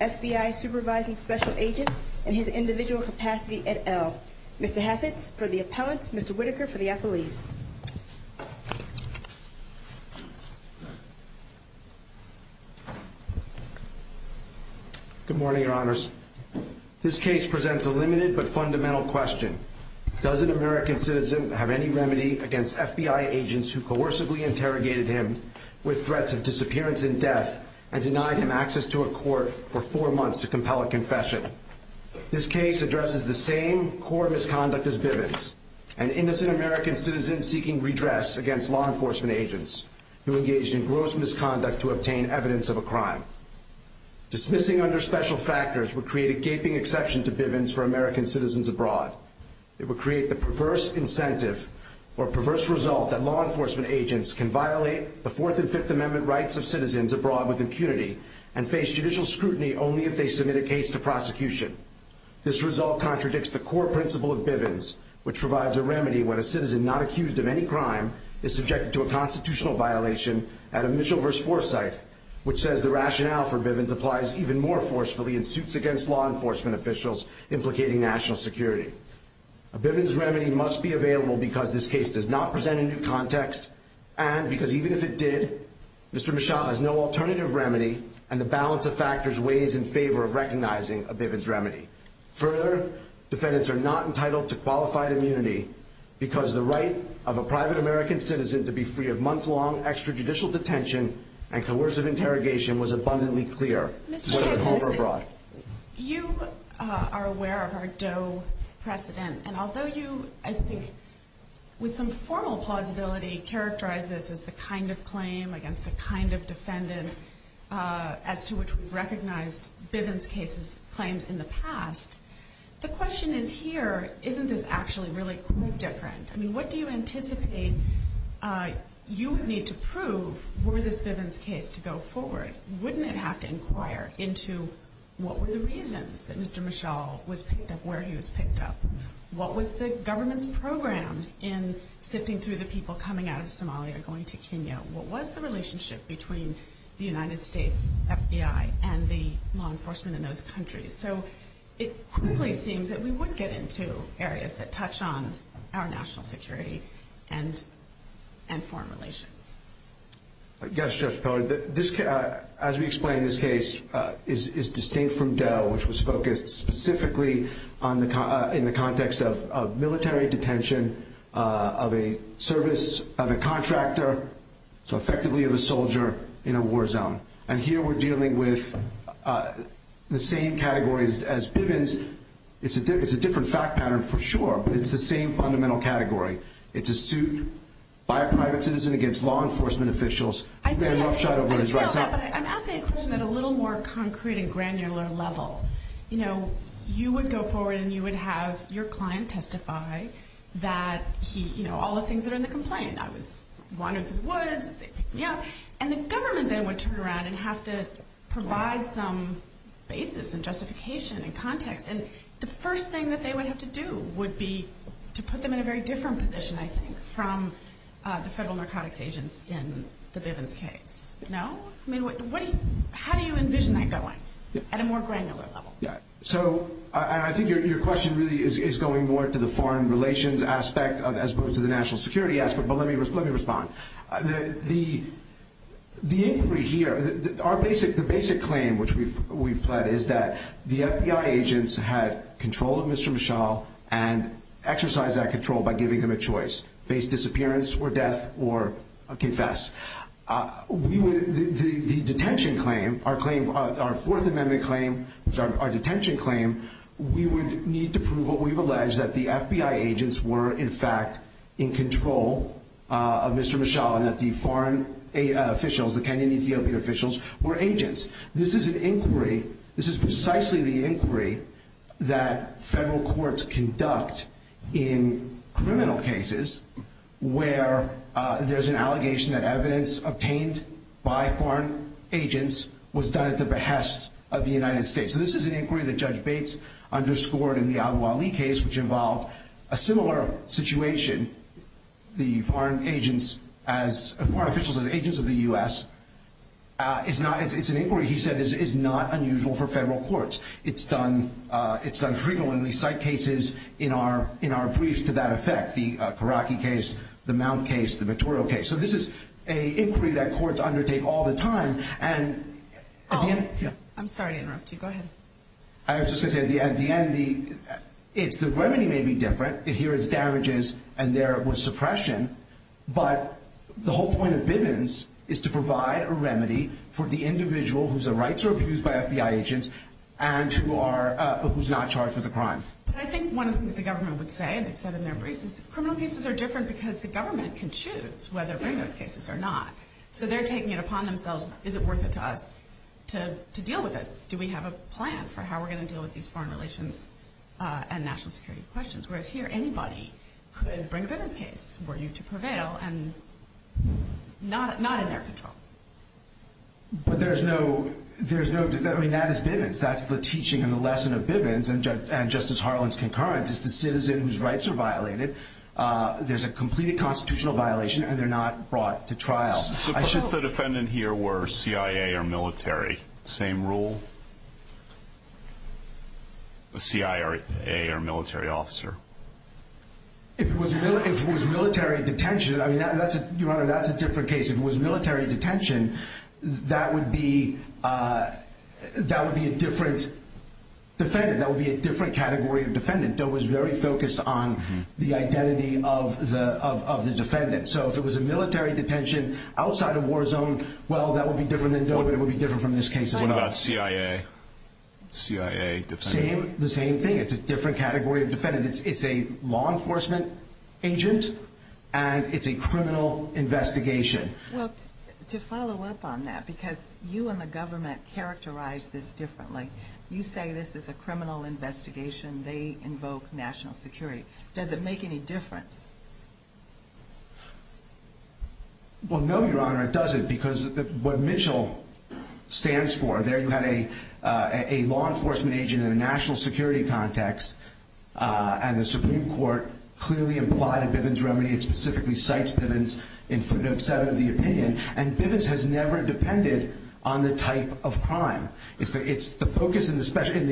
F.B.I. Supervising Special Agent in his individual capacity at L. Mr. Heffitz for the appellant, Mr. Whitaker for the appellees. Good morning, your honors. This case presents a limited but fundamental question. Doesn't an American citizen have any remedy against FBI agents who coercively interrogated him with threats of disappearance and death and denied him access to a court for four months to compel a confession? This case addresses the same core misconduct as Bivens, an innocent American citizen seeking redress against law enforcement agents who engaged in gross misconduct to obtain evidence of a crime. Dismissing under special factors would create a gaping exception to Bivens for American citizens abroad. It would create the perverse incentive or perverse result that law enforcement agents can violate the Fourth and Fifth Amendment rights of citizens abroad with impunity and face judicial scrutiny only if they submit a case to prosecution. This result contradicts the core principle of Bivens, which provides a remedy when a citizen not accused of any crime is subjected to a constitutional violation at a Mitchell v. Forsyth, which says the rationale for Bivens applies even more forcefully in defense of law enforcement officials implicating national security. A Bivens remedy must be available because this case does not present a new context and because even if it did, Mr. Mishaba has no alternative remedy and the balance of factors weighs in favor of recognizing a Bivens remedy. Further, defendants are not entitled to qualified immunity because the right of a private American citizen to be free of month-long extrajudicial detention and coercive interrogation was abundantly clear, whether at home or abroad. You are aware of our Doe precedent, and although you, I think, with some formal plausibility, characterize this as the kind of claim against a kind of defendant as to which we've recognized Bivens case's claims in the past, the question is here, isn't this actually really quite different? I mean, what do you anticipate you need to prove were this Bivens case to go forward? Wouldn't it have to inquire into what were the reasons that Mr. Mishaba was picked up where he was picked up? What was the government's program in sifting through the people coming out of Somalia going to Kenya? What was the relationship between the United States FBI and the law enforcement in those countries? So it quickly seems that we would get into areas that touch on our national security and foreign relations. Yes, Judge Peller. As we explained, this case is distinct from Doe, which was focused specifically in the context of military detention of a service, of a contractor, so effectively of a soldier in a war zone. And here we're dealing with the same categories as Bivens. It's a different fact pattern for sure, but it's the same fundamental category. It's a suit by a private citizen against law enforcement officials. I'm asking a question at a little more concrete and granular level. You know, you would go forward and you would have your client testify that he, you know, all the things that are in the complaint. I was wandering through the woods, they picked me up. And the government then would turn around and have to provide some basis and justification and context. And the first thing that they would have to do would be to put them in a very different position, I think, from the federal narcotics agents in the Bivens case. No? I mean, how do you envision that going at a more granular level? So I think your question really is going more to the foreign relations aspect as opposed to the national security aspect. But let me respond. The inquiry here, our basic claim which we've pled is that the FBI agents had control of Mr. Mishal and exercised that control by giving him a choice, face disappearance or death or confess. The detention claim, our claim, our Fourth Amendment claim, our detention claim, we would need to prove what we've alleged, that the FBI agents were in fact in control of Mr. Mishal and that the foreign officials, the Kenyan Ethiopian officials, were agents. This is an inquiry, this is precisely the inquiry that federal courts conduct in criminal cases where there's an allegation that evidence obtained by foreign agents was done at the court in the Abu Ali case which involved a similar situation. The foreign agents as foreign officials as agents of the U.S. is not, it's an inquiry, he said, is not unusual for federal courts. It's done, it's done frequently, site cases in our briefs to that effect, the Karaki case, the Mount case, the Vittorio case. So this is an inquiry that courts undertake all the time and... I'm sorry to interrupt you. Go ahead. I was just going to say, at the end, the remedy may be different. Here it's damages and there it was suppression, but the whole point of Bivens is to provide a remedy for the individual whose rights are abused by FBI agents and who's not charged with a crime. I think one of the things the government would say, and they've said in their briefs, is criminal cases are different because the government can choose whether to bring those cases or not. So they're taking it upon themselves, is it worth it to us to deal with this? Do we have a plan for how we're going to deal with these foreign relations and national security questions? Whereas here, anybody could bring a Bivens case were you to prevail and not in their control. But there's no, there's no, I mean, that is Bivens. That's the teaching and the lesson of Bivens and Justice Harlan's concurrence, is the citizen whose rights are violated, there's a complete constitutional violation and they're not brought to trial. Suppose the defendant here were CIA or military, same rule? A CIA or military officer? If it was military detention, I mean, that's a different case. If it was military detention, that would be a different defendant. That would be a different category of defendant that was very focused on the identity of the defendant. So if it was a military detention outside of war zone, well, that would be different than DOE, but it would be different from this case as well. What about CIA? CIA defendant? The same thing. It's a different category of defendant. It's a law enforcement agent and it's a criminal investigation. Well, to follow up on that, because you and the government characterize this differently. You say this is a criminal investigation. They invoke national security. Does it make any difference? Well, no, Your Honor, it doesn't, because what Mitchell stands for, there you had a law enforcement agent in a national security context and the Supreme Court clearly implied a Bivens remedy. It specifically cites Bivens in footnote 7 of the opinion. And Bivens has never depended on the type of crime. The focus in the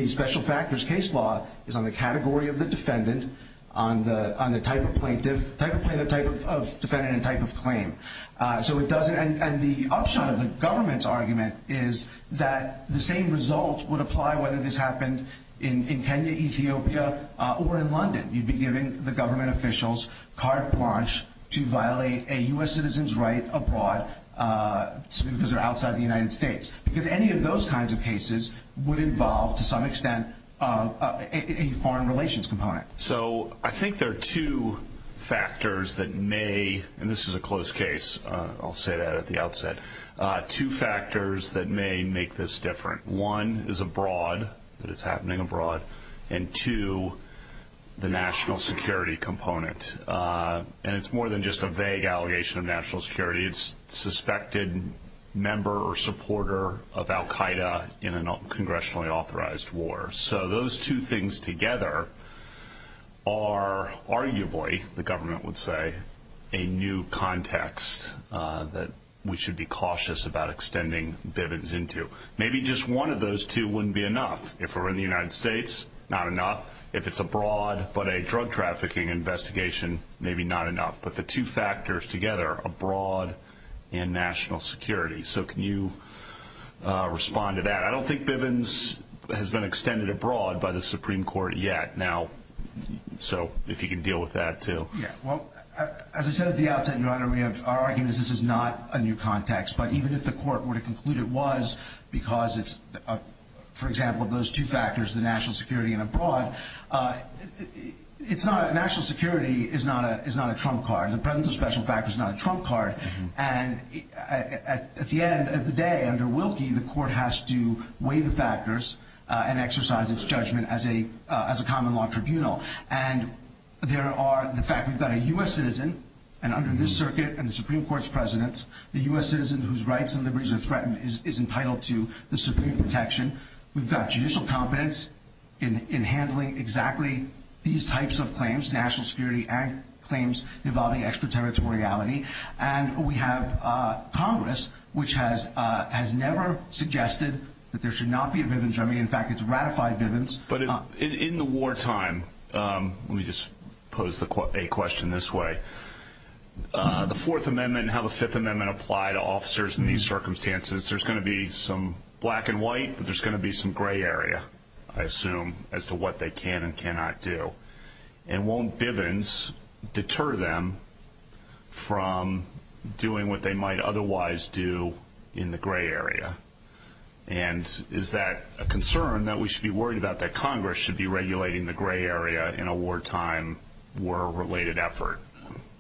special factors case law is on the category of the defendant, on the type of plaintiff, type of defendant, and type of claim. And the upshot of the government's argument is that the same result would apply whether this happened in Kenya, Ethiopia, or in London. You'd be giving the government officials carte blanche to violate a U.S. citizen's right abroad because they're outside the United States. Because any of those kinds of cases would involve to some extent a foreign relations component. So I think there are two factors that may, and this is a close case. I'll say that at the outset. Two factors that may make this different. One is abroad, that it's happening abroad. And two, the national security component. And it's more than just a vague allegation of national security. It's suspected member or supporter of Al Qaeda in a congressionally authorized war. So those two things together are arguably, the government would say, a new context that we should be cautious about extending Bivens into. Maybe just one of those two wouldn't be enough. If we're in the United States, not enough. If it's abroad but a drug trafficking investigation, maybe not enough. But the two factors together, abroad and national security. So can you respond to that? I don't think Bivens has been extended abroad by the Supreme Court yet. So if you can deal with that, too. Well, as I said at the outset, Your Honor, our argument is this is not a new context. But even if the court were to conclude it was because it's, for example, those two factors, the national security and abroad, national security is not a trump card. The presence of special factors is not a trump card. And at the end of the day, under Wilkie, the court has to weigh the factors and exercise its judgment as a common law tribunal. And there are the fact we've got a U.S. citizen, and under this circuit and the Supreme Court's president, the U.S. citizen whose rights and liberties are threatened is entitled to the supreme protection. We've got judicial competence in handling exactly these types of claims, national security and claims involving extraterritoriality. And we have Congress, which has never suggested that there should not be a Bivens remedy. In fact, it's ratified Bivens. But in the wartime, let me just pose a question this way, the Fourth Amendment and how the Fifth Amendment apply to officers in these circumstances, there's going to be some black and white, but there's going to be some gray area, I assume, as to what they can and cannot do. And won't Bivens deter them from doing what they might otherwise do in the gray area? And is that a concern that we should be worried about, that Congress should be regulating the gray area in a wartime war-related effort?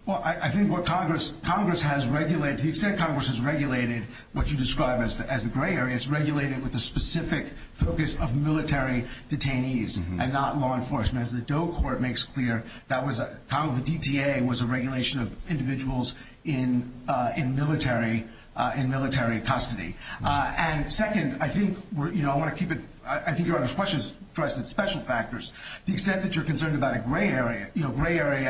Well, I think what Congress has regulated, to the extent Congress has regulated what you describe as the gray area, it's regulated with the specific focus of military detainees and not law enforcement. As the Doe Court makes clear, that was kind of the DTA, was a regulation of individuals in military custody. And second, I think I want to keep it ‑‑ I think Your Honor's question is addressed at special factors. The extent that you're concerned about a gray area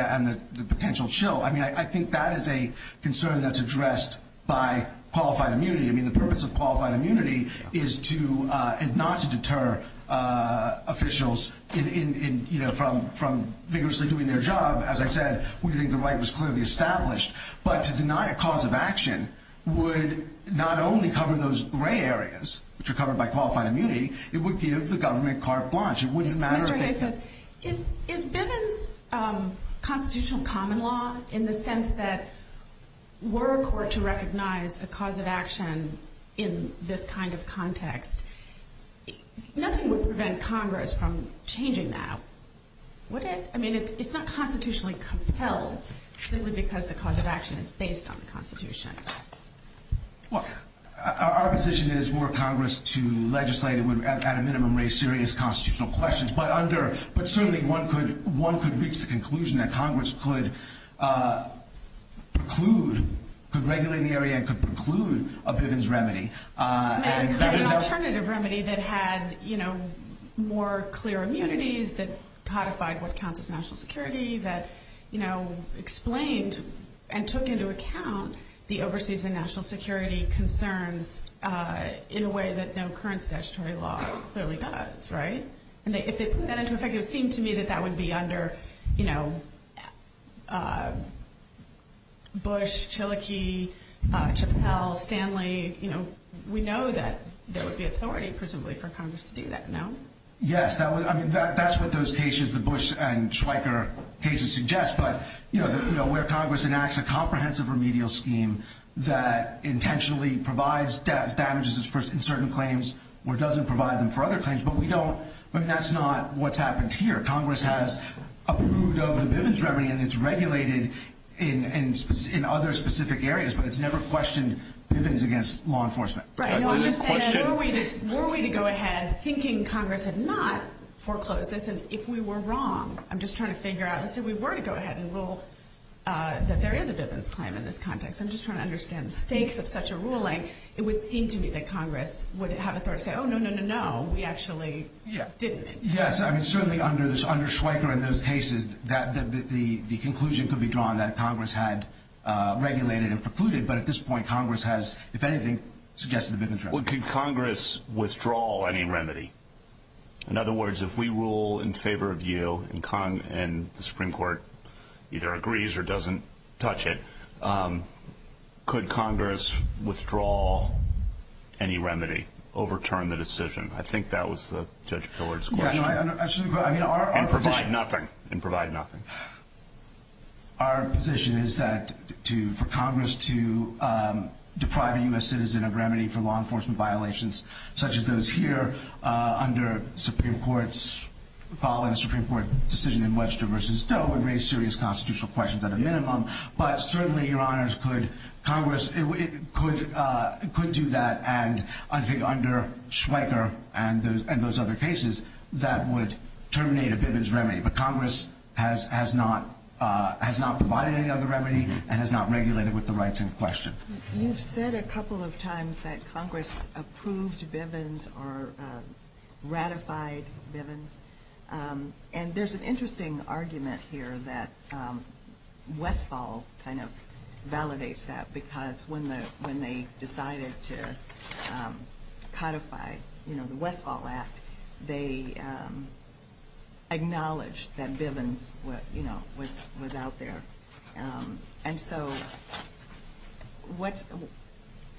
and the potential chill, I mean, I think that is a concern that's addressed by qualified immunity. I mean, the purpose of qualified immunity is not to deter officials from vigorously doing their job. As I said, we think the right was clearly established. But to deny a cause of action would not only cover those gray areas, which are covered by qualified immunity, it would give the government carte blanche. Mr. Hayfield, is Bivens constitutional common law in the sense that were a court to recognize a cause of action in this kind of context, nothing would prevent Congress from changing that, would it? I mean, it's not constitutionally compelled simply because the cause of action is based on the Constitution. Well, our position is were Congress to legislate it would at a minimum raise serious constitutional questions. But certainly one could reach the conclusion that Congress could preclude, could regulate the area and could preclude a Bivens remedy. An alternative remedy that had, you know, more clear immunities, that codified what counts as national security, that, you know, explained and took into account the overseas and national security concerns in a way that no current statutory law clearly does, right? And if they put that into effect, it would seem to me that that would be under, you know, Bush, Chilokee, Chappelle, Stanley. You know, we know that there would be authority, presumably, for Congress to do that, no? Yes, I mean, that's what those cases, the Bush and Schweiker cases suggest. But, you know, where Congress enacts a comprehensive remedial scheme that intentionally provides damages in certain claims or doesn't provide them for other claims, but we don't, I mean, that's not what's happened here. Congress has approved of the Bivens remedy and it's regulated in other specific areas, but it's never questioned Bivens against law enforcement. Right, no, I'm just saying, were we to go ahead thinking Congress had not foreclosed this, and if we were wrong, I'm just trying to figure out, let's say we were to go ahead and rule that there is a Bivens claim in this context. I'm just trying to understand the stakes of such a ruling. It would seem to me that Congress would have authority to say, oh, no, no, no, no, we actually didn't. Yes, I mean, certainly under Schweiker and those cases, the conclusion could be drawn that Congress had regulated and precluded, but at this point Congress has, if anything, suggested a Bivens remedy. Well, could Congress withdraw any remedy? In other words, if we rule in favor of you and the Supreme Court either agrees or doesn't touch it, could Congress withdraw any remedy, overturn the decision? I think that was Judge Pillard's question. Yes, absolutely. And provide nothing. And provide nothing. Our position is that for Congress to deprive a U.S. citizen of remedy for law enforcement violations, such as those here under Supreme Court's following the Supreme Court decision in Webster v. Doe, would raise serious constitutional questions at a minimum, but certainly, Your Honors, Congress could do that, and I think under Schweiker and those other cases, that would terminate a Bivens remedy. But Congress has not provided any other remedy and has not regulated with the rights in question. You've said a couple of times that Congress approved Bivens or ratified Bivens, and there's an interesting argument here that Westfall kind of validates that, because when they decided to codify the Westfall Act, they acknowledged that Bivens was out there. And so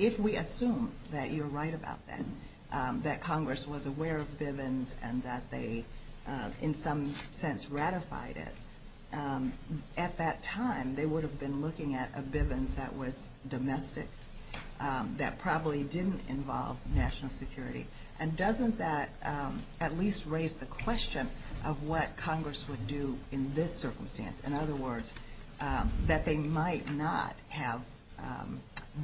if we assume that you're right about that, that Congress was aware of Bivens and that they in some sense ratified it, at that time, they would have been looking at a Bivens that was domestic, that probably didn't involve national security. And doesn't that at least raise the question of what Congress would do in this circumstance? In other words, that they might not have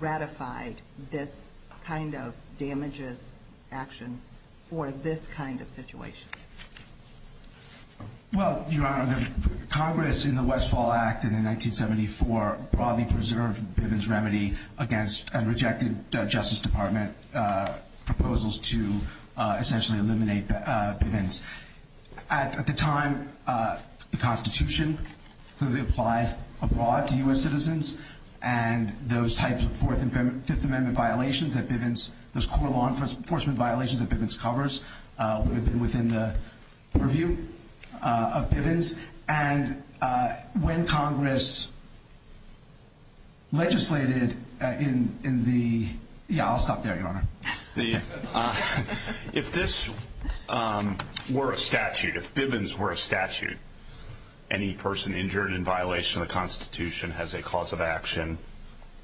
ratified this kind of damages action for this kind of situation. Well, Your Honor, Congress in the Westfall Act in 1974 broadly preserved Bivens remedy against and rejected Justice Department proposals to essentially eliminate Bivens. At the time, the Constitution clearly applied abroad to U.S. citizens, and those types of Fourth and Fifth Amendment violations that Bivens, those core law enforcement violations that Bivens covers would have been within the review of Bivens. And when Congress legislated in the – yeah, I'll stop there, Your Honor. If this were a statute, if Bivens were a statute, any person injured in violation of the Constitution has a cause of action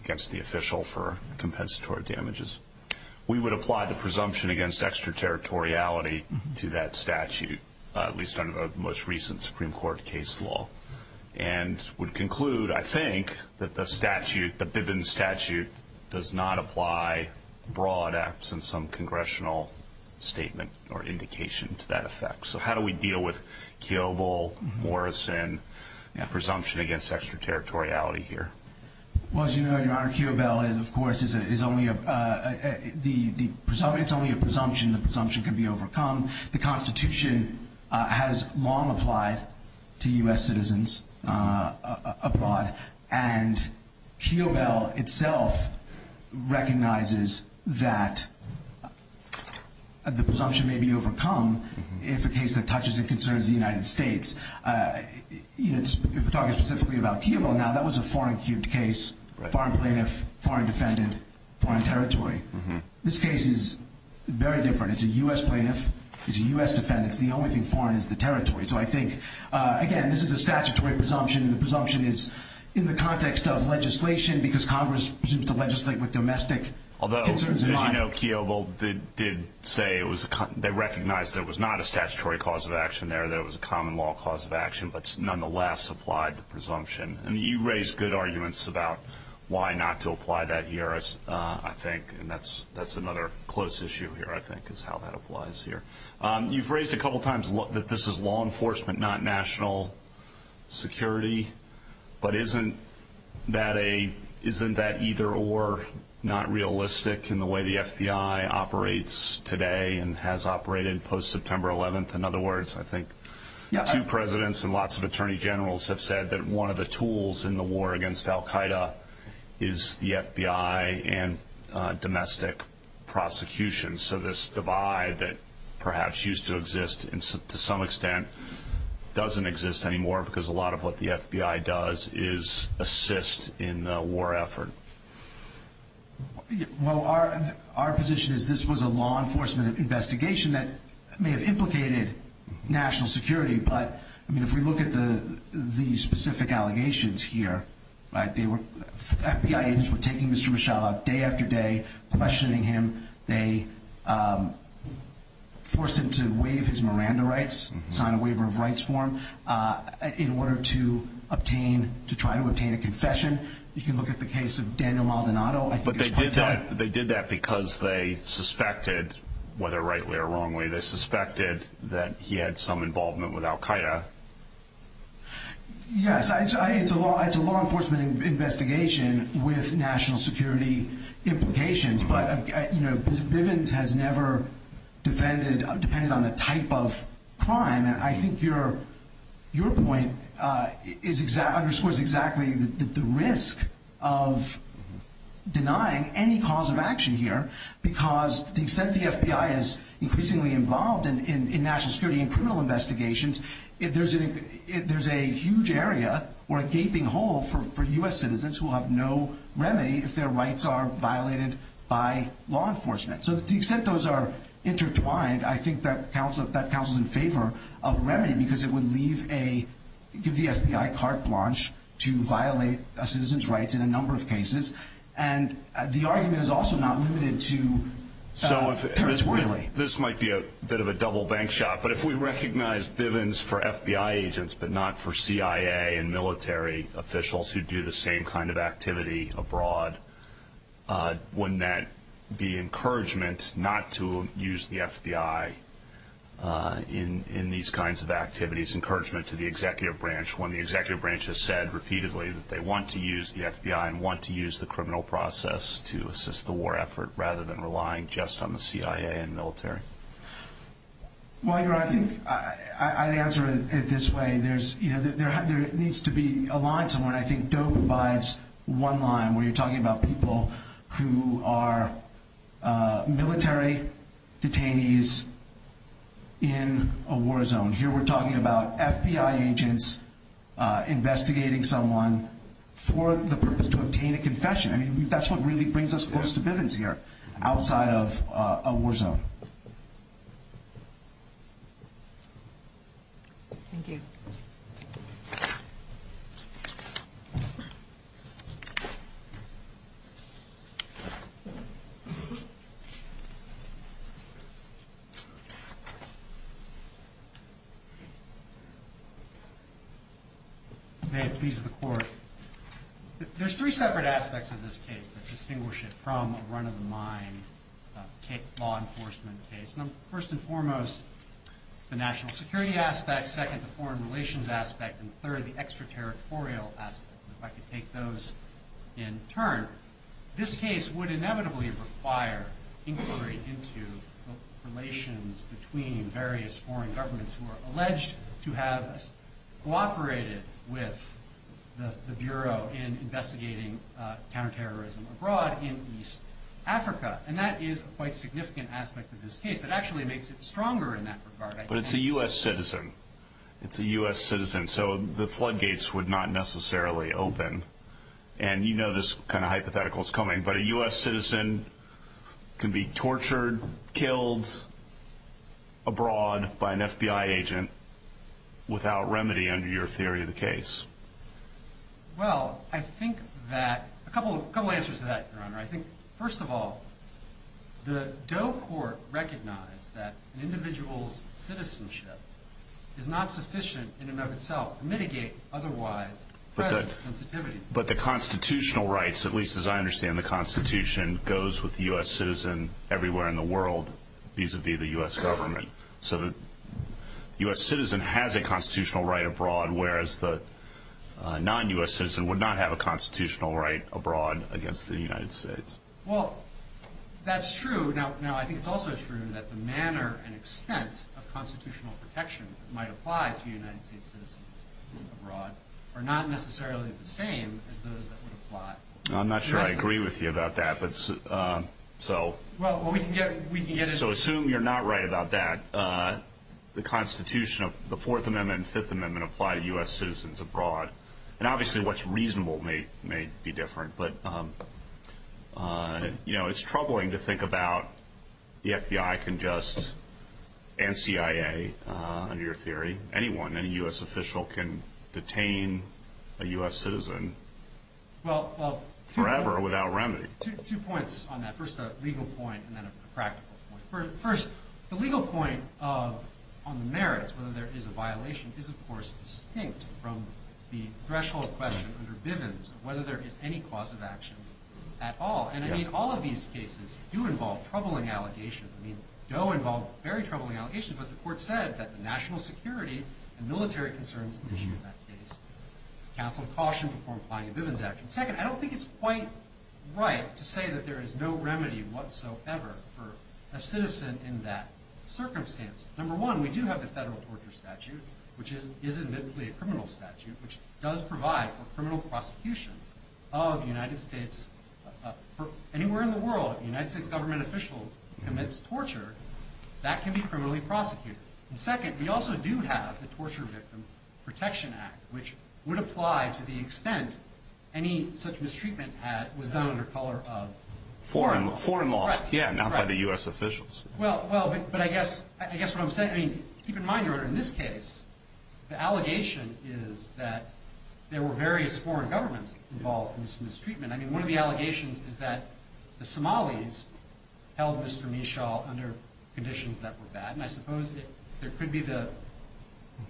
against the official for compensatory damages. We would apply the presumption against extraterritoriality to that statute, at least under the most recent Supreme Court case law, and would conclude, I think, that the statute, the Bivens statute, does not apply abroad, absent some congressional statement or indication to that effect. So how do we deal with Kiobel, Morrison, presumption against extraterritoriality here? Well, as you know, Your Honor, Kiobel, of course, is only a – it's only a presumption. The presumption can be overcome. The Constitution has long applied to U.S. citizens abroad, and Kiobel itself recognizes that the presumption may be overcome if a case that touches and concerns the United States – if we're talking specifically about Kiobel now, that was a foreign-cubed case, foreign plaintiff, foreign defendant, foreign territory. This case is very different. It's a U.S. plaintiff, it's a U.S. defendant. It's the only thing foreign is the territory. So I think, again, this is a statutory presumption. The presumption is in the context of legislation because Congress presumes to legislate with domestic concerns in mind. Although, as you know, Kiobel did say it was a – they recognized that it was not a statutory cause of action there, that it was a common law cause of action, but nonetheless applied the presumption. And you raised good arguments about why not to apply that here, I think, and that's another close issue here, I think, is how that applies here. You've raised a couple times that this is law enforcement, not national security. But isn't that a – isn't that either-or, not realistic in the way the FBI operates today and has operated post-September 11th? In other words, I think two presidents and lots of attorney generals have said that one of the tools in the war against al-Qaida is the FBI and domestic prosecution. So this divide that perhaps used to exist and to some extent doesn't exist anymore because a lot of what the FBI does is assist in the war effort. Well, our position is this was a law enforcement investigation that may have implicated national security. But, I mean, if we look at the specific allegations here, they were – FBI agents were taking Mr. Mishal out day after day, questioning him, they forced him to waive his Miranda rights, sign a waiver of rights for him, in order to obtain – to try to obtain a confession. You can look at the case of Daniel Maldonado. But they did that because they suspected, whether rightly or wrongly, Yes, it's a law enforcement investigation with national security implications. But, you know, Bivens has never defended – depended on the type of crime. And I think your point is – underscores exactly the risk of denying any cause of action here because the extent the FBI is increasingly involved in national security and criminal investigations, there's a huge area or a gaping hole for U.S. citizens who will have no remedy if their rights are violated by law enforcement. So to the extent those are intertwined, I think that counts as in favor of remedy because it would leave a – give the FBI carte blanche to violate a citizen's rights in a number of cases. And the argument is also not limited to – So if – Terrence Worley. This might be a bit of a double bank shot, but if we recognize Bivens for FBI agents but not for CIA and military officials who do the same kind of activity abroad, wouldn't that be encouragement not to use the FBI in these kinds of activities? Encouragement to the executive branch when the executive branch has said repeatedly that they want to use the FBI and want to use the criminal process to assist the war effort rather than relying just on the CIA and military? Well, Your Honor, I think I'd answer it this way. There needs to be a line somewhere, and I think Doe provides one line where you're talking about people who are military detainees in a war zone. Here we're talking about FBI agents investigating someone for the purpose to obtain a confession. I mean, that's what really brings us close to Bivens here, outside of a war zone. Thank you. There's three separate aspects of this case that distinguish it from a run-of-the-mine law enforcement case. First and foremost, the national security aspect, second, the foreign relations aspect, and third, the extraterritorial aspect, if I could take those in turn. This case would inevitably require inquiry into relations between various foreign governments who are alleged to have cooperated with the Bureau in investigating counterterrorism abroad in East Africa, and that is a quite significant aspect of this case. It actually makes it stronger in that regard. But it's a U.S. citizen. It's a U.S. citizen, so the floodgates would not necessarily open, and you know this kind of hypothetical is coming, but a U.S. citizen can be tortured, killed abroad by an FBI agent without remedy under your theory of the case. Well, I think that a couple answers to that, Your Honor. I think, first of all, the Doe Court recognized that an individual's citizenship is not sufficient in and of itself to mitigate otherwise present sensitivity. But the constitutional rights, at least as I understand the Constitution, goes with the U.S. citizen everywhere in the world vis-a-vis the U.S. government. So the U.S. citizen has a constitutional right abroad, whereas the non-U.S. citizen would not have a constitutional right abroad against the United States. Well, that's true. Now, I think it's also true that the manner and extent of constitutional protections that might apply to United States citizens abroad are not necessarily the same as those that would apply to U.S. citizens. I'm not sure I agree with you about that, but so assume you're not right about that. The Constitution of the Fourth Amendment and Fifth Amendment apply to U.S. citizens abroad, and obviously what's reasonable may be different, but, you know, it's troubling to think about the FBI can just, and CIA, under your theory, anyone, any U.S. official can detain a U.S. citizen forever without remedy. Two points on that. First, a legal point, and then a practical point. First, the legal point on the merits, whether there is a violation, is, of course, distinct from the threshold question under Bivens of whether there is any cause of action at all. And, I mean, all of these cases do involve troubling allegations. I mean, DOE involved very troubling allegations, but the court said that the national security and military concerns issue in that case. Counsel cautioned before applying a Bivens action. Second, I don't think it's quite right to say that there is no remedy whatsoever for a citizen in that circumstance. Number one, we do have the federal torture statute, which is admittedly a criminal statute, which does provide for criminal prosecution of the United States. Anywhere in the world, if a United States government official commits torture, that can be criminally prosecuted. And, second, we also do have the Torture Victim Protection Act, which would apply to the extent any such mistreatment was done under color of foreign law. Foreign law, yeah, not by the U.S. officials. Well, but I guess what I'm saying, I mean, keep in mind, Your Honor, in this case, the allegation is that there were various foreign governments involved in this mistreatment. I mean, one of the allegations is that the Somalis held Mr. Mishal under conditions that were bad, and I suppose there could be the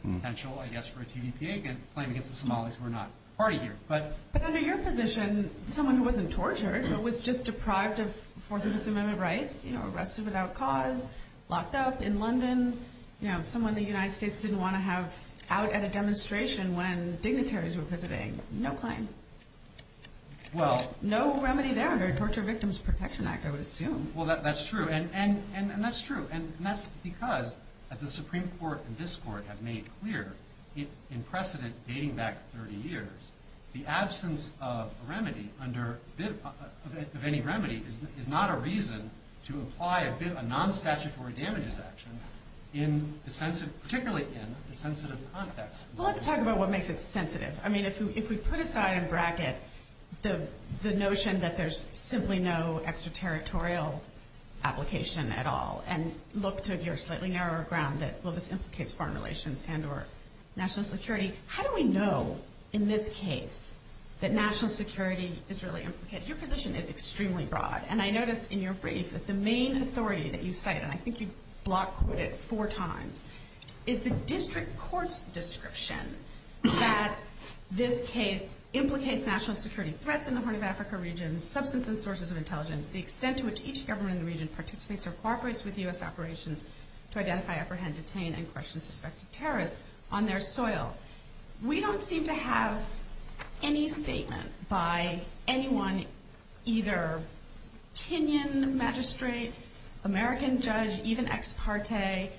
potential, I guess, for a TVPA claim against the Somalis who are not party here. But under your position, someone who wasn't tortured, who was just deprived of Fourth and Fifth Amendment rights, you know, arrested without cause, locked up in London, you know, someone the United States didn't want to have out at a demonstration when dignitaries were visiting, no claim. No remedy there under the Torture Victim Protection Act, I would assume. Well, that's true, and that's true, and that's because, as the Supreme Court and this Court have made clear, in precedent dating back 30 years, the absence of a remedy, of any remedy, is not a reason to apply a non-statutory damages action, particularly in a sensitive context. Well, let's talk about what makes it sensitive. I mean, if we put aside in bracket the notion that there's simply no extraterritorial application at all and look to your slightly narrower ground that, well, this implicates foreign relations and or national security, how do we know in this case that national security is really implicated? Your position is extremely broad, and I noticed in your brief that the main authority that you cite, and I think you block quoted it four times, is the district court's description that this case implicates national security, threats in the Horn of Africa region, substance and sources of intelligence, the extent to which each government in the region participates or cooperates with U.S. operations to identify, apprehend, detain, and question suspected terrorists on their soil. We don't seem to have any statement by anyone, either Kenyan magistrate, American judge, even ex parte,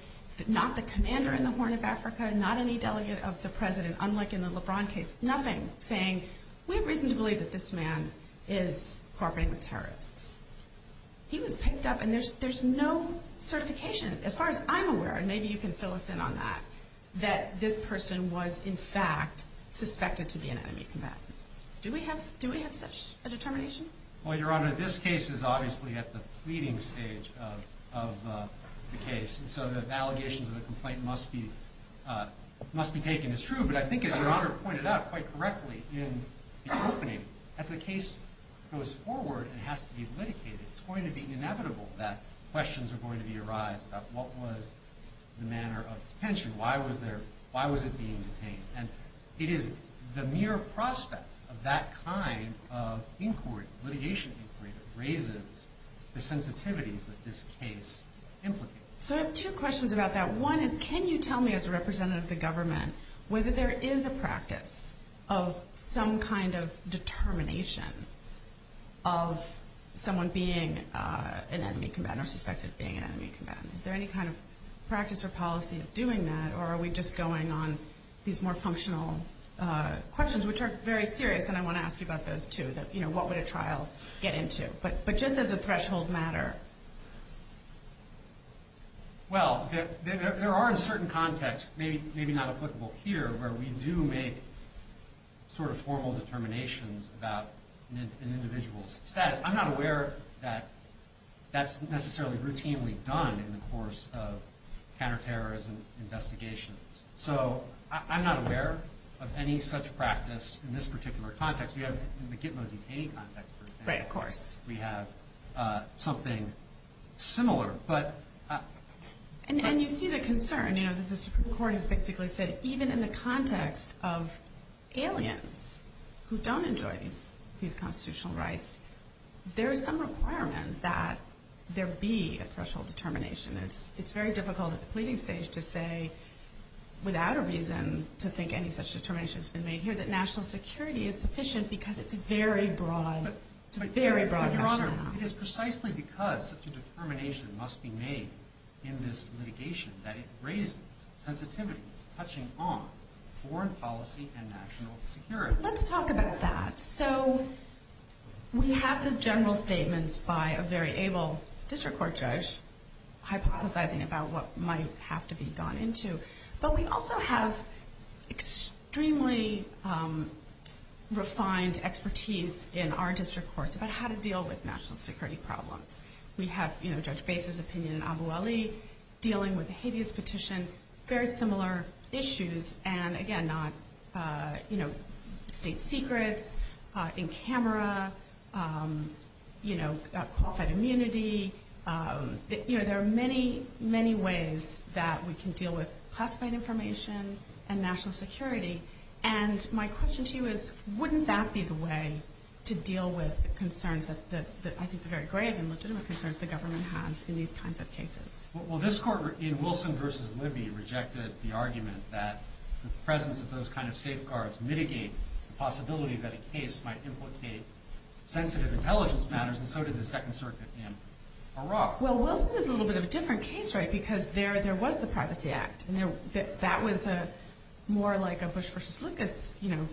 not the commander in the Horn of Africa, not any delegate of the president, unlike in the LeBron case, nothing, saying we have reason to believe that this man is cooperating with terrorists. He was picked up, and there's no certification, as far as I'm aware, and maybe you can fill us in on that, that this person was, in fact, suspected to be an enemy combatant. Do we have such a determination? Well, Your Honor, this case is obviously at the pleading stage of the case, and so the allegations of the complaint must be taken as true, but I think as Your Honor pointed out quite correctly in the opening, as the case goes forward and has to be litigated, it's going to be inevitable that questions are going to arise about what was the manner of detention, why was it being detained, and it is the mere prospect of that kind of inquiry, litigation inquiry, that raises the sensitivities that this case implicates. So I have two questions about that. One is, can you tell me, as a representative of the government, whether there is a practice of some kind of determination of someone being an enemy combatant or suspected of being an enemy combatant? Is there any kind of practice or policy of doing that, or are we just going on these more functional questions, which are very serious, and I want to ask you about those, too, that, you know, what would a trial get into? But just as a threshold matter. Well, there are in certain contexts, maybe not applicable here, where we do make sort of formal determinations about an individual's status. I'm not aware that that's necessarily routinely done in the course of counterterrorism investigations. So I'm not aware of any such practice in this particular context. We have in the Gitmo detainee context, for example. Right, of course. We have something similar. And you see the concern, you know, that the Supreme Court has basically said, even in the context of aliens who don't enjoy these constitutional rights, there is some requirement that there be a threshold determination. It's very difficult at the pleading stage to say, without a reason to think any such determination has been made here, that national security is sufficient because it's a very broad rationale. Your Honor, it is precisely because such a determination must be made in this litigation that it raises sensitivities touching on foreign policy and national security. Let's talk about that. So we have the general statements by a very able district court judge hypothesizing about what might have to be gone into. But we also have extremely refined expertise in our district courts about how to deal with national security problems. We have, you know, Judge Bates' opinion, and Abueli dealing with the habeas petition, very similar issues. And, again, not, you know, state secrets, in camera, you know, qualified immunity. You know, there are many, many ways that we can deal with classified information and national security, and my question to you is, wouldn't that be the way to deal with concerns that I think are very grave and legitimate concerns the government has in these kinds of cases? Well, this court in Wilson v. Libby rejected the argument that the presence of those kind of safeguards mitigate the possibility that a case might implicate sensitive intelligence matters, and so did the Second Circuit in Iraq. Well, Wilson is a little bit of a different case, right, because there was the Privacy Act, and that was more like a Bush v. Lucas, you know.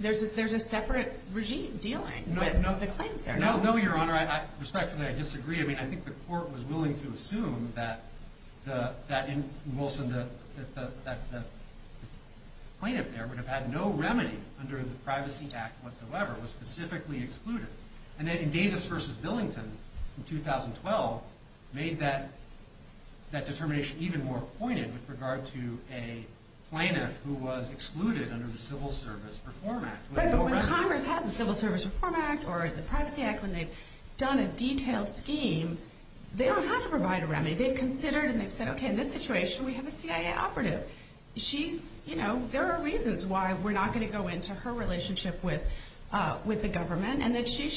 There's a separate regime dealing with the claims there. No, no, Your Honor. Respectfully, I disagree. I mean, I think the court was willing to assume that in Wilson the plaintiff there would have had no remedy under the Privacy Act whatsoever. It was specifically excluded. And then in Davis v. Billington in 2012 made that determination even more pointed with regard to a plaintiff who was excluded under the Civil Service Reform Act. But when Congress has a Civil Service Reform Act or the Privacy Act, when they've done a detailed scheme, they don't have to provide a remedy. They've considered and they've said, okay, in this situation we have a CIA operative. There are reasons why we're not going to go into her relationship with the government, and that she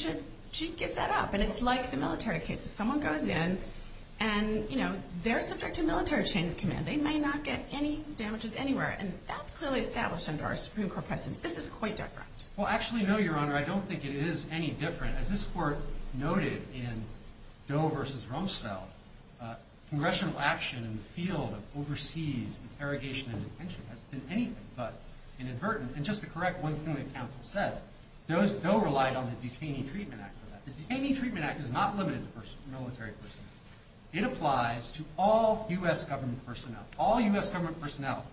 gives that up. And it's like the military cases. Someone goes in, and they're subject to military chain of command. They may not get any damages anywhere. And that's clearly established under our Supreme Court precedents. This is quite different. Well, actually, no, Your Honor. I don't think it is any different. As this Court noted in Doe v. Rumsfeld, congressional action in the field of overseas interrogation and detention has been anything but inadvertent. And just to correct one thing that counsel said, Doe relied on the Detaining Treatment Act for that. The Detaining Treatment Act is not limited to military personnel. It applies to all U.S. government personnel. All U.S. government personnel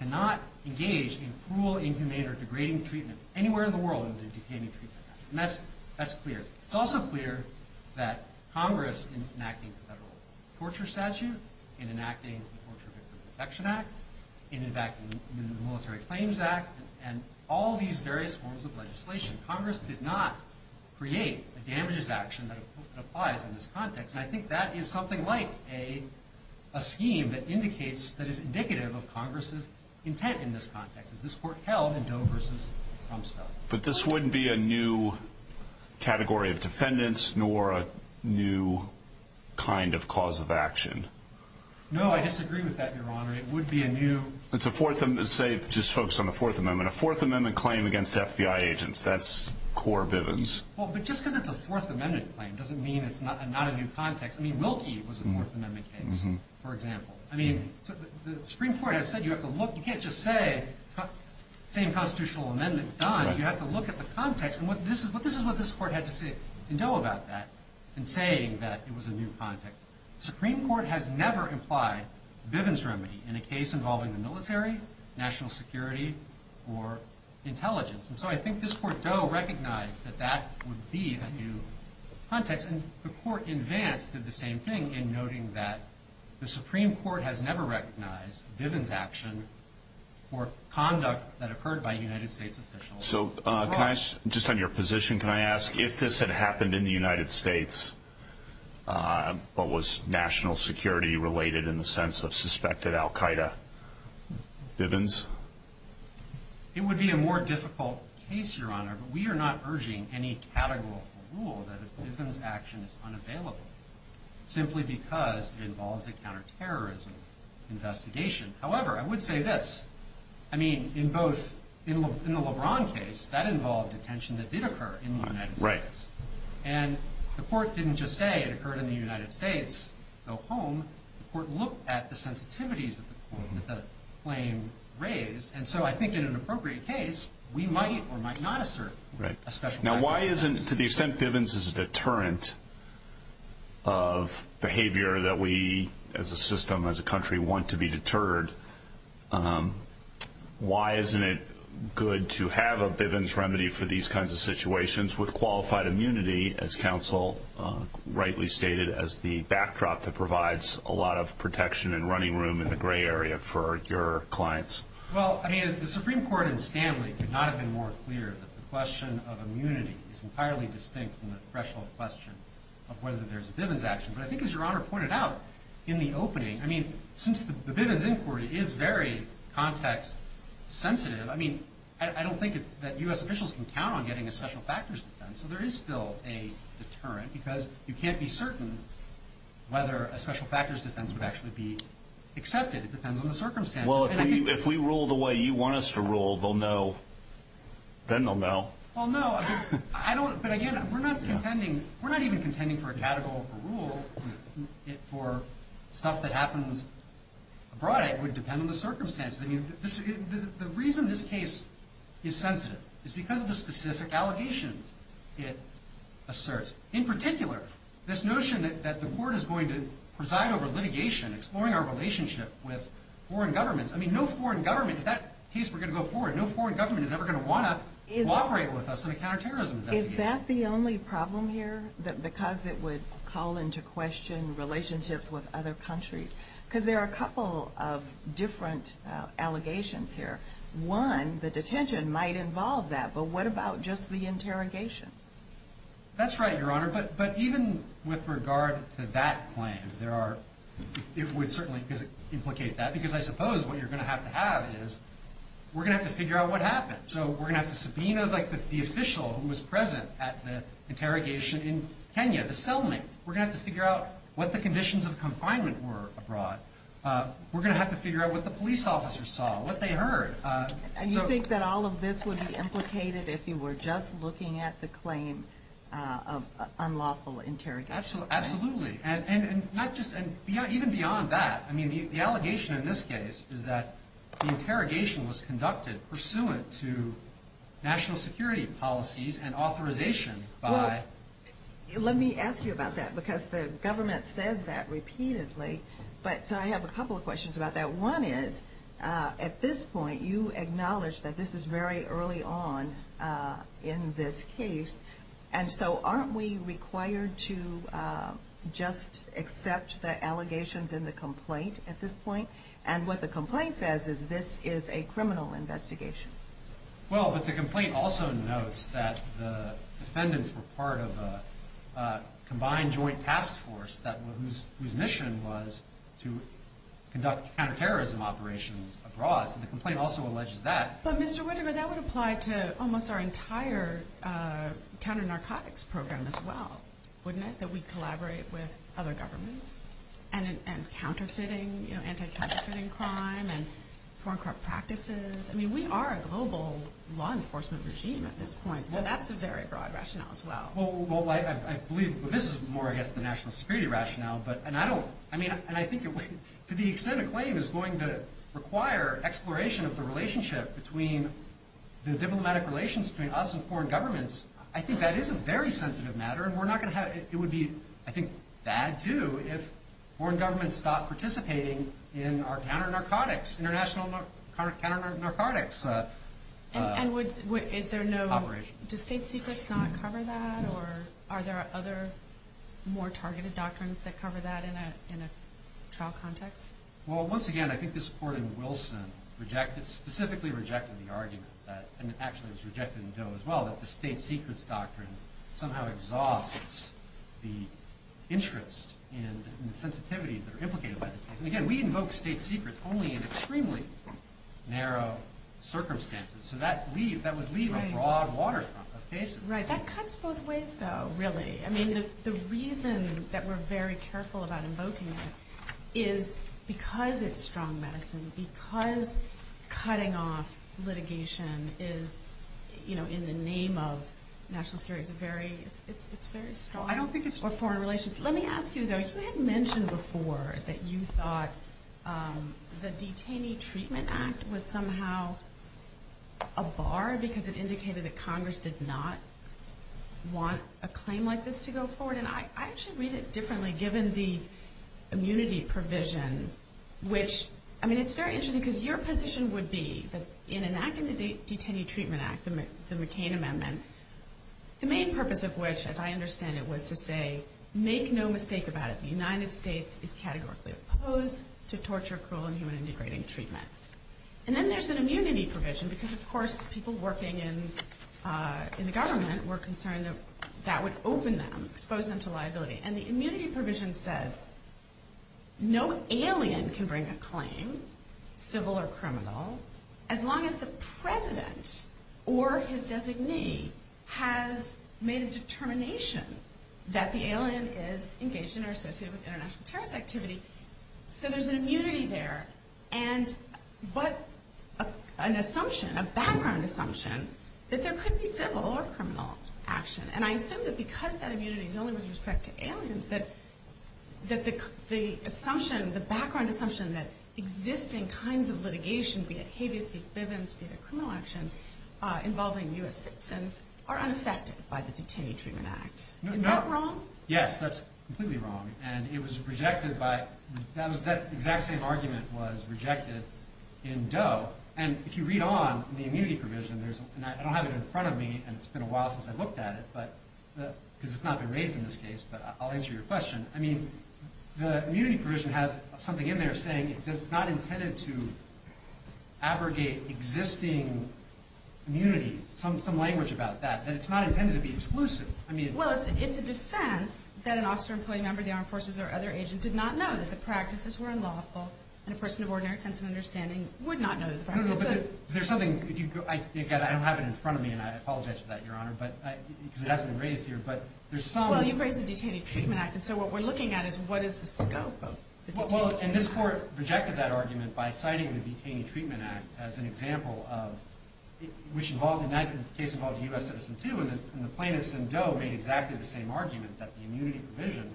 cannot engage in cruel, inhumane, or degrading treatment anywhere in the world under the Detaining Treatment Act. And that's clear. It's also clear that Congress, in enacting the federal torture statute, in enacting the Torture Victim Protection Act, in enacting the Military Claims Act, and all these various forms of legislation, Congress did not create a damages action that applies in this context. And I think that is something like a scheme that indicates, that is indicative of Congress's intent in this context, as this Court held in Doe v. Rumsfeld. But this wouldn't be a new category of defendants, nor a new kind of cause of action. No, I disagree with that, Your Honor. It would be a new... Let's say, just focus on the Fourth Amendment. A Fourth Amendment claim against FBI agents, that's core Bivens. Well, but just because it's a Fourth Amendment claim doesn't mean it's not a new context. I mean, Wilkie was a Fourth Amendment case, for example. I mean, the Supreme Court has said, you can't just say, same constitutional amendment done. You have to look at the context. And this is what this Court had to say in Doe about that, in saying that it was a new context. The Supreme Court has never implied Bivens remedy in a case involving the military, national security, or intelligence. And so I think this Court, Doe, recognized that that would be a new context. And the Court, in Vance, did the same thing, in noting that the Supreme Court has never recognized Bivens action or conduct that occurred by United States officials. So, just on your position, can I ask, if this had happened in the United States, what was national security related in the sense of suspected al Qaeda? Bivens? It would be a more difficult case, Your Honor, but we are not urging any categorical rule that a Bivens action is unavailable, simply because it involves a counterterrorism investigation. However, I would say this. I mean, in both, in the LeBron case, that involved detention that did occur in the United States. Right. And the Court didn't just say it occurred in the United States. Go home. The Court looked at the sensitivities that the claim raised. And so I think in an appropriate case, we might or might not assert a special kind of defense. To the extent Bivens is a deterrent of behavior that we, as a system, as a country, want to be deterred, why isn't it good to have a Bivens remedy for these kinds of situations with qualified immunity, as counsel rightly stated, as the backdrop that provides a lot of protection and running room in the gray area for your clients? Well, I mean, the Supreme Court and Stanley could not have been more clear that the question of immunity is entirely distinct from the threshold question of whether there's a Bivens action. But I think, as Your Honor pointed out in the opening, I mean, since the Bivens inquiry is very context sensitive, I mean, I don't think that U.S. officials can count on getting a special factors defense. So there is still a deterrent, because you can't be certain whether a special factors defense would actually be accepted. It depends on the circumstances. Well, if we rule the way you want us to rule, they'll know. Then they'll know. Well, no. But, again, we're not contending. We're not even contending for a categorical rule for stuff that happens abroad. It would depend on the circumstances. The reason this case is sensitive is because of the specific allegations it asserts. In particular, this notion that the court is going to preside over litigation, exploring our relationship with foreign governments. I mean, no foreign government, if that case were going to go forward, no foreign government is ever going to want to cooperate with us in a counterterrorism investigation. Is that the only problem here, because it would call into question relationships with other countries? Because there are a couple of different allegations here. One, the detention might involve that. But what about just the interrogation? That's right, Your Honor. But even with regard to that claim, it would certainly implicate that. Because I suppose what you're going to have to have is we're going to have to figure out what happened. So we're going to have to subpoena the official who was present at the interrogation in Kenya, the cellmate. We're going to have to figure out what the conditions of confinement were abroad. We're going to have to figure out what the police officers saw, what they heard. And you think that all of this would be implicated if you were just looking at the claim of unlawful interrogation? Absolutely. And even beyond that, I mean, the allegation in this case is that the interrogation was conducted pursuant to national security policies and authorization by... Let me ask you about that, because the government says that repeatedly. So I have a couple of questions about that. One is, at this point, you acknowledge that this is very early on in this case. And so aren't we required to just accept the allegations in the complaint at this point? And what the complaint says is this is a criminal investigation. Well, but the complaint also notes that the defendants were part of a combined joint task force whose mission was to conduct counterterrorism operations abroad. So the complaint also alleges that. But, Mr. Whitaker, that would apply to almost our entire counter-narcotics program as well, wouldn't it? That we collaborate with other governments and counterfeiting, you know, anti-counterfeiting crime and foreign corrupt practices. I mean, we are a global law enforcement regime at this point, so that's a very broad rationale as well. Well, I believe this is more, I guess, the national security rationale. And I think to the extent a claim is going to require exploration of the relationship between the diplomatic relations between us and foreign governments, I think that is a very sensitive matter, and it would be, I think, bad do if foreign governments stopped participating in our counter-narcotics, international counter-narcotics operations. And is there no, does State Secrets not cover that, or are there other more targeted doctrines that cover that in a trial context? Well, once again, I think this Court in Wilson specifically rejected the argument, and actually it was rejected in Doe as well, that the State Secrets doctrine somehow exhausts the interest and the sensitivities that are implicated by this case. And again, we invoke State Secrets only in extremely narrow circumstances. So that would leave a broad water of cases. Right. That cuts both ways, though, really. I mean, the reason that we're very careful about invoking it is because it's strong medicine, because cutting off litigation is, you know, in the name of national security, it's very strong for foreign relations. Let me ask you, though, you had mentioned before that you thought the Detainee Treatment Act was somehow a bar because it indicated that Congress did not want a claim like this to go forward. And I actually read it differently, given the immunity provision, which, I mean, it's very interesting because your position would be that in enacting the Detainee Treatment Act, the McCain Amendment, the main purpose of which, as I understand it, was to say, make no mistake about it, the United States is categorically opposed to torture, cruel, and human-integrating treatment. And then there's an immunity provision because, of course, people working in the government were concerned that that would open them, expose them to liability. And the immunity provision says no alien can bring a claim, civil or criminal, as long as the president or his designee has made a determination that the alien is engaged in or associated with international terrorist activity. So there's an immunity there, but an assumption, a background assumption, that there could be civil or criminal action. And I assume that because that immunity is only with respect to aliens, that the assumption, the background assumption that existing kinds of litigation, be it habeas, be it bivens, be it a criminal action involving U.S. citizens, are unaffected by the Detainee Treatment Act. Is that wrong? Yes, that's completely wrong. And it was rejected by, that exact same argument was rejected in Doe. And if you read on the immunity provision, and I don't have it in front of me, and it's been a while since I've looked at it, because it's not been raised in this case, but I'll answer your question. I mean, the immunity provision has something in there saying it's not intended to immunity, some language about that, that it's not intended to be exclusive. Well, it's a defense that an officer, employee, member of the armed forces, or other agent did not know that the practices were unlawful, and a person of ordinary sense and understanding would not know the practices. No, no, but there's something, again, I don't have it in front of me, and I apologize for that, Your Honor, because it hasn't been raised here. Well, you've raised the Detainee Treatment Act, and so what we're looking at is what is the scope of the Detainee Treatment Act. Well, and this Court rejected that argument by citing the Detainee Treatment Act as an example of which involved in that case involved a U.S. citizen, too, and the plaintiffs in Doe made exactly the same argument that the immunity provision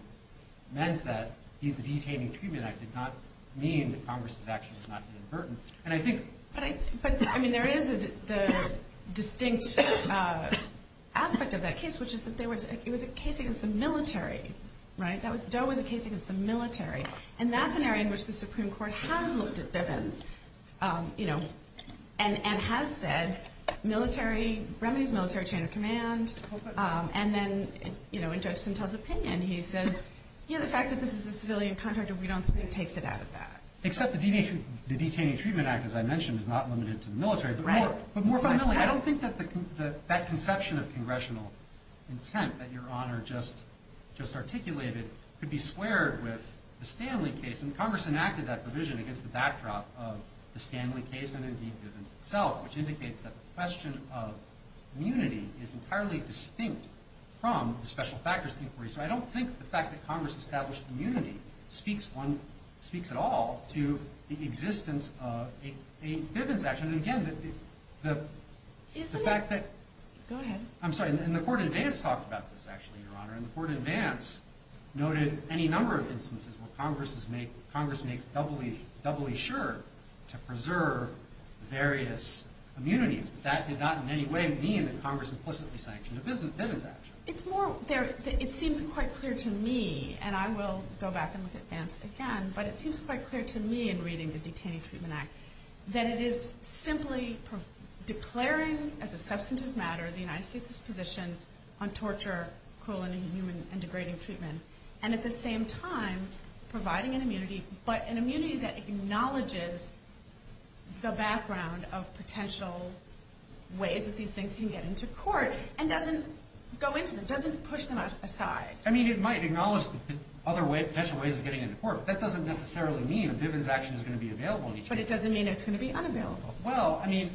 meant that the Detainee Treatment Act did not mean that Congress's actions were not inadvertent. But, I mean, there is the distinct aspect of that case, which is that it was a case against the military, right? Doe was a case against the military, and that's an area in which the Supreme Court has looked at their vins, you know, and has said remedies military chain of command, and then in Judge Sintel's opinion he says, yeah, the fact that this is a civilian contract, we don't think takes it out of that. Except the Detainee Treatment Act, as I mentioned, is not limited to the military. Right. But more fundamentally, I don't think that that conception of congressional intent that Your Honor just articulated could be squared with the Stanley case, and Congress enacted that provision against the backdrop of the Stanley case and, indeed, Bivens itself, which indicates that the question of immunity is entirely distinct from the special factors inquiry. So I don't think the fact that Congress established immunity speaks at all to the existence of a Bivens action. And, again, the fact that... Isn't it? Go ahead. I'm sorry. And the court in advance talked about this, actually, Your Honor, and the court in advance noted any number of instances where Congress makes doubly sure to preserve various immunities, but that did not in any way mean that Congress implicitly sanctioned a Bivens action. It seems quite clear to me, and I will go back and look at Vance again, but it seems quite clear to me in reading the Detainee Treatment Act that it is simply declaring as a substantive matter the United States' position on torture, cruel and degrading treatment, and at the same time providing an immunity, but an immunity that acknowledges the background of potential ways that these things can get into court, and doesn't go into them, doesn't push them aside. I mean, it might acknowledge other potential ways of getting into court, but that doesn't necessarily mean a Bivens action is going to be available in each case. But it doesn't mean it's going to be unavailable. Well, I mean...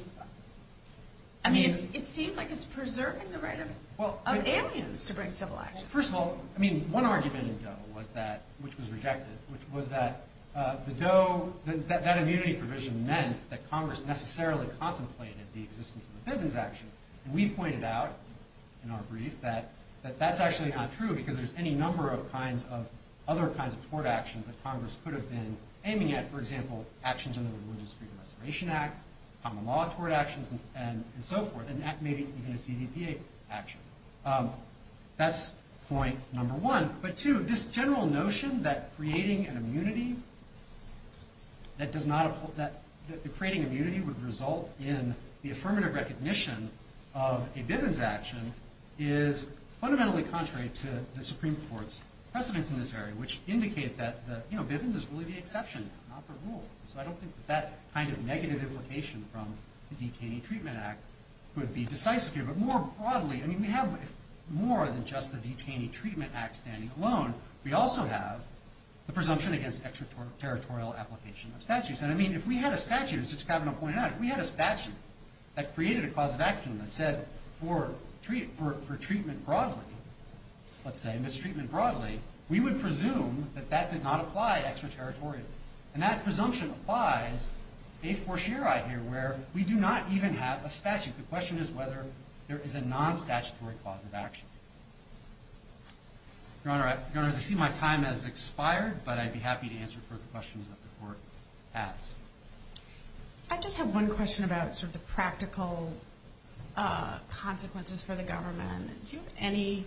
I mean, it seems like it's preserving the right of aliens to bring civil action. Well, first of all, I mean, one argument in Doe was that, which was rejected, was that the Doe, that immunity provision meant that Congress necessarily contemplated the existence of a Bivens action. And we pointed out in our brief that that's actually not true, because there's any number of kinds of other kinds of tort actions that Congress could have been aiming at. For example, actions under the Religious Freedom Restoration Act, common law tort actions, and so forth, and maybe even a CDPA action. That's point number one. But two, this general notion that creating an immunity, that the creating immunity would result in the affirmative recognition of a Bivens action, is fundamentally contrary to the Supreme Court's precedence in this area, which indicate that Bivens is really the exception, not the rule. So I don't think that that kind of negative implication from the Detainee Treatment Act would be decisive here. But more broadly, I mean, we have more than just the Detainee Treatment Act standing alone. We also have the presumption against extraterritorial application of statutes. And I mean, if we had a statute, as Judge Kavanaugh pointed out, if we had a statute that created a cause of action that said, for treatment broadly, let's say, mistreatment broadly, we would presume that that did not apply extraterritorially. And that presumption applies a fortiori here, where we do not even have a statute. The question is whether there is a non-statutory cause of action. Your Honor, I see my time has expired, but I'd be happy to answer further questions that the Court has. I just have one question about sort of the practical consequences for the government. Do you have any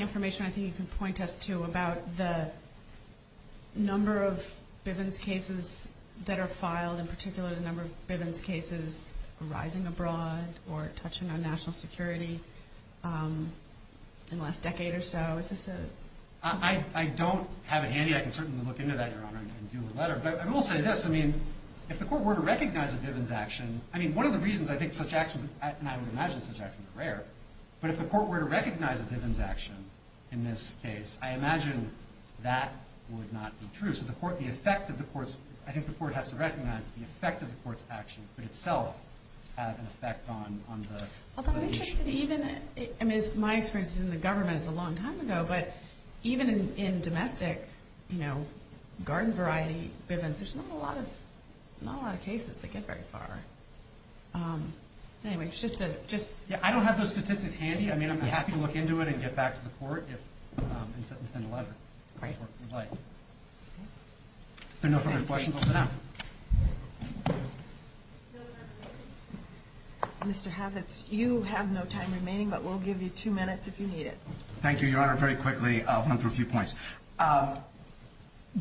information I think you can point us to about the number of Bivens cases that are filed, in particular the number of Bivens cases arising abroad or touching on national security in the last decade or so? I don't have it handy. I can certainly look into that, Your Honor, and do a letter. But I will say this. I mean, if the Court were to recognize a Bivens action, I mean, one of the reasons I think such actions, and I would imagine such actions are rare, but if the Court were to recognize a Bivens action in this case, I imagine that would not be true. So the Court, the effect of the Court's, I think the Court has to recognize that the effect of the Court's action could itself have an effect on the nation. Although I'm interested even, I mean, my experience in the government is a long time ago, but even in domestic, you know, garden variety Bivens, there's not a lot of cases that get very far. Anyway, it's just a, just. Yeah, I don't have those statistics handy. I mean, I'm happy to look into it and get back to the Court and send a letter if the Court would like. If there are no further questions, I'll sit down. Mr. Havits, you have no time remaining, but we'll give you two minutes if you need it. Thank you, Your Honor. Very quickly, I'll run through a few points.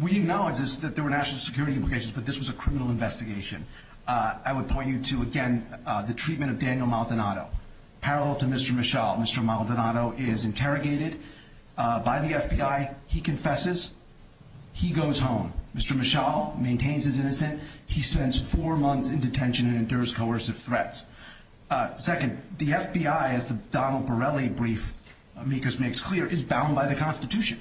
We acknowledge that there were national security implications, but this was a criminal investigation. I would point you to, again, the treatment of Daniel Maldonado. Parallel to Mr. Michal, Mr. Maldonado is interrogated by the FBI. He confesses. He goes home. Mr. Michal maintains his innocence. He spends four months in detention and endures coercive threats. Second, the FBI, as the Donald Borelli brief makes clear, is bound by the Constitution.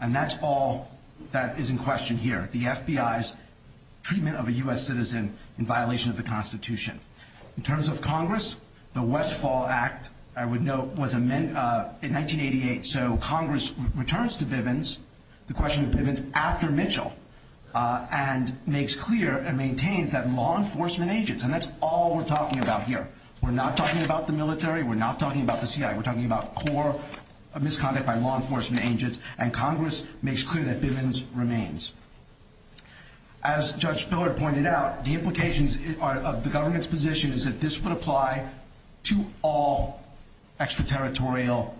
And that's all that is in question here. The FBI's treatment of a U.S. citizen in violation of the Constitution. In terms of Congress, the Westfall Act, I would note, was amended in 1988, so Congress returns to Bivens the question of Bivens after Michal and makes clear and maintains that law enforcement agents, and that's all we're talking about here. We're not talking about the military. We're not talking about the CIA. We're talking about core misconduct by law enforcement agents, and Congress makes clear that Bivens remains. As Judge Spillard pointed out, the implications of the government's position is that this would apply to all extraterritorial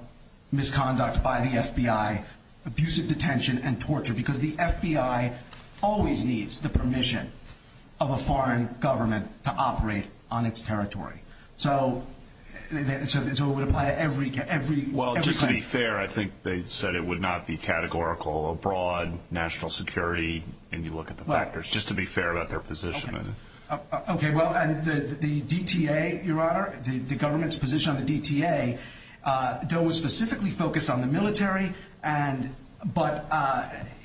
misconduct by the FBI, abusive detention, and torture, because the FBI always needs the permission of a foreign government to operate on its territory. So it would apply to every country. Well, just to be fair, I think they said it would not be categorical abroad, national security, and you look at the factors. Just to be fair about their position. Okay, well, and the DTA, Your Honor, the government's position on the DTA, DOE was specifically focused on the military, but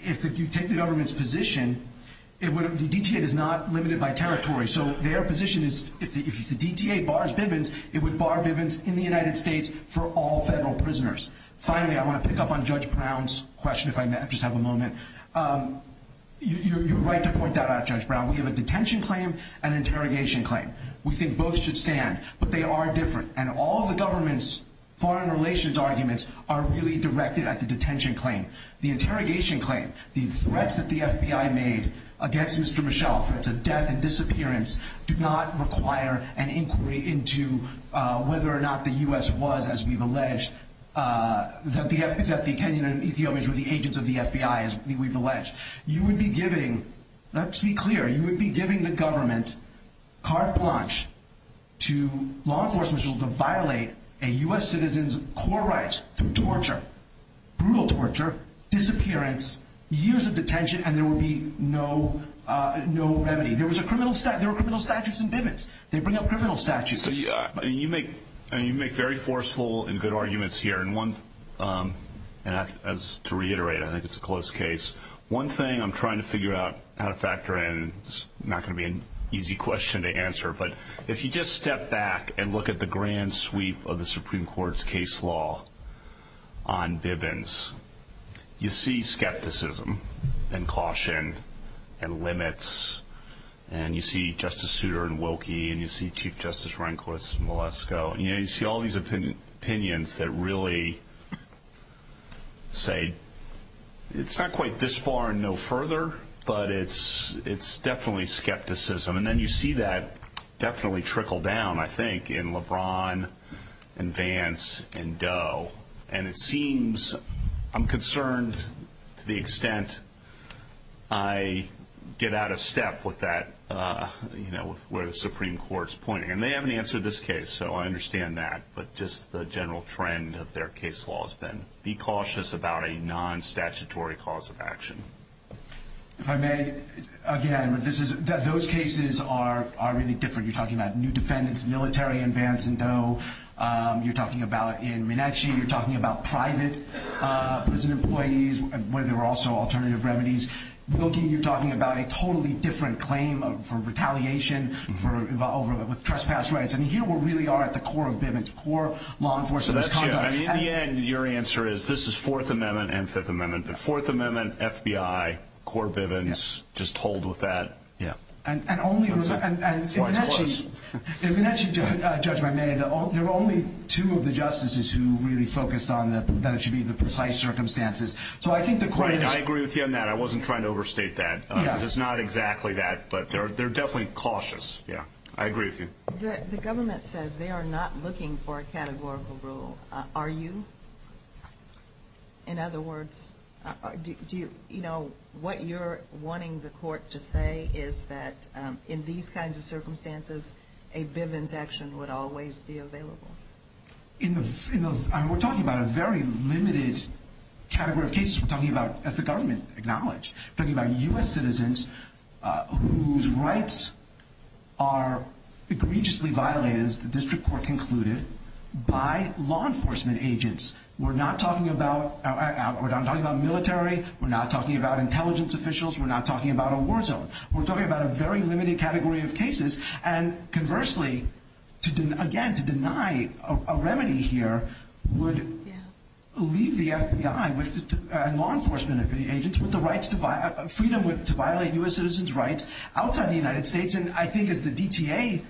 if you take the government's position, the DTA is not limited by territory. So their position is if the DTA bars Bivens, it would bar Bivens in the United States for all federal prisoners. Finally, I want to pick up on Judge Brown's question if I may. I just have a moment. You're right to point that out, Judge Brown. We have a detention claim and an interrogation claim. We think both should stand, but they are different, and all the government's foreign relations arguments are really directed at the detention claim. The interrogation claim, the threats that the FBI made against Mr. Michelle, threats of death and disappearance, do not require an inquiry into whether or not the U.S. was, as we've alleged, that the Kenyan and Ethiopians were the agents of the FBI, as we've alleged. You would be giving, let's be clear, you would be giving the government carte blanche to law enforcement to violate a U.S. citizen's core rights through torture, brutal torture, disappearance, years of detention, and there would be no remedy. There were criminal statutes in Bivens. They bring up criminal statutes. You make very forceful and good arguments here. And to reiterate, I think it's a close case, one thing I'm trying to figure out how to factor in. It's not going to be an easy question to answer, but if you just step back and look at the grand sweep of the Supreme Court's case law on Bivens, you see skepticism and caution and limits, and you see Justice Souter and Wilkie and you see Chief Justice Rehnquist and Velasco, and you see all these opinions that really say it's not quite this far and no further, but it's definitely skepticism. And then you see that definitely trickle down, I think, in LeBron and Vance and Doe. And it seems I'm concerned to the extent I get out of step with that, with where the Supreme Court's pointing. And they haven't answered this case, so I understand that, but just the general trend of their case law has been be cautious about a non-statutory cause of action. If I may, again, those cases are really different. You're talking about new defendants, military in Vance and Doe. You're talking about in Minechi. You're talking about private prison employees where there are also alternative remedies. Wilkie, you're talking about a totally different claim for retaliation with trespass rights. I mean, here we really are at the core of Bivens, core law enforcement. So that's true. I mean, in the end, your answer is this is Fourth Amendment and Fifth Amendment. The Fourth Amendment, FBI, core Bivens, just hold with that. Yeah. And only in Minechi, Judge, if I may, there are only two of the justices who really focused on that it should be the precise circumstances. I agree with you on that. I wasn't trying to overstate that. It's not exactly that, but they're definitely cautious. Yeah, I agree with you. The government says they are not looking for a categorical rule. Are you? In other words, what you're wanting the court to say is that in these kinds of circumstances, a Bivens action would always be available. We're talking about a very limited category of cases. We're talking about, as the government acknowledged, talking about U.S. citizens whose rights are egregiously violated, as the district court concluded, by law enforcement agents. We're not talking about military. We're not talking about intelligence officials. We're not talking about a war zone. We're talking about a very limited category of cases. And conversely, again, to deny a remedy here would leave the FBI and law enforcement agents with the freedom to violate U.S. citizens' rights outside the United States. And I think, as the DTA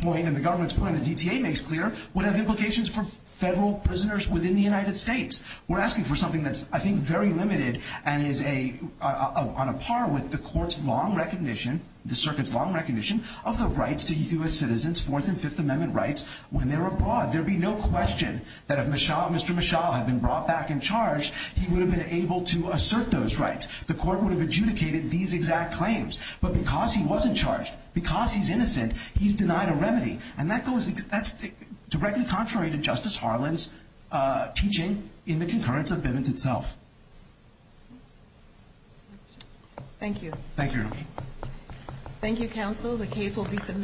point and the government's point, the DTA makes clear would have implications for federal prisoners within the United States. We're asking for something that's, I think, very limited and is on a par with the court's long recognition, the circuit's long recognition, of the rights to U.S. citizens' Fourth and Fifth Amendment rights when they're abroad. There would be no question that if Mr. Mischel had been brought back in charge, he would have been able to assert those rights. The court would have adjudicated these exact claims. But because he wasn't charged, because he's innocent, he's denied a remedy. And that's directly contrary to Justice Harlan's teaching in the concurrence of Bivens itself. Thank you. Thank you, Your Honor.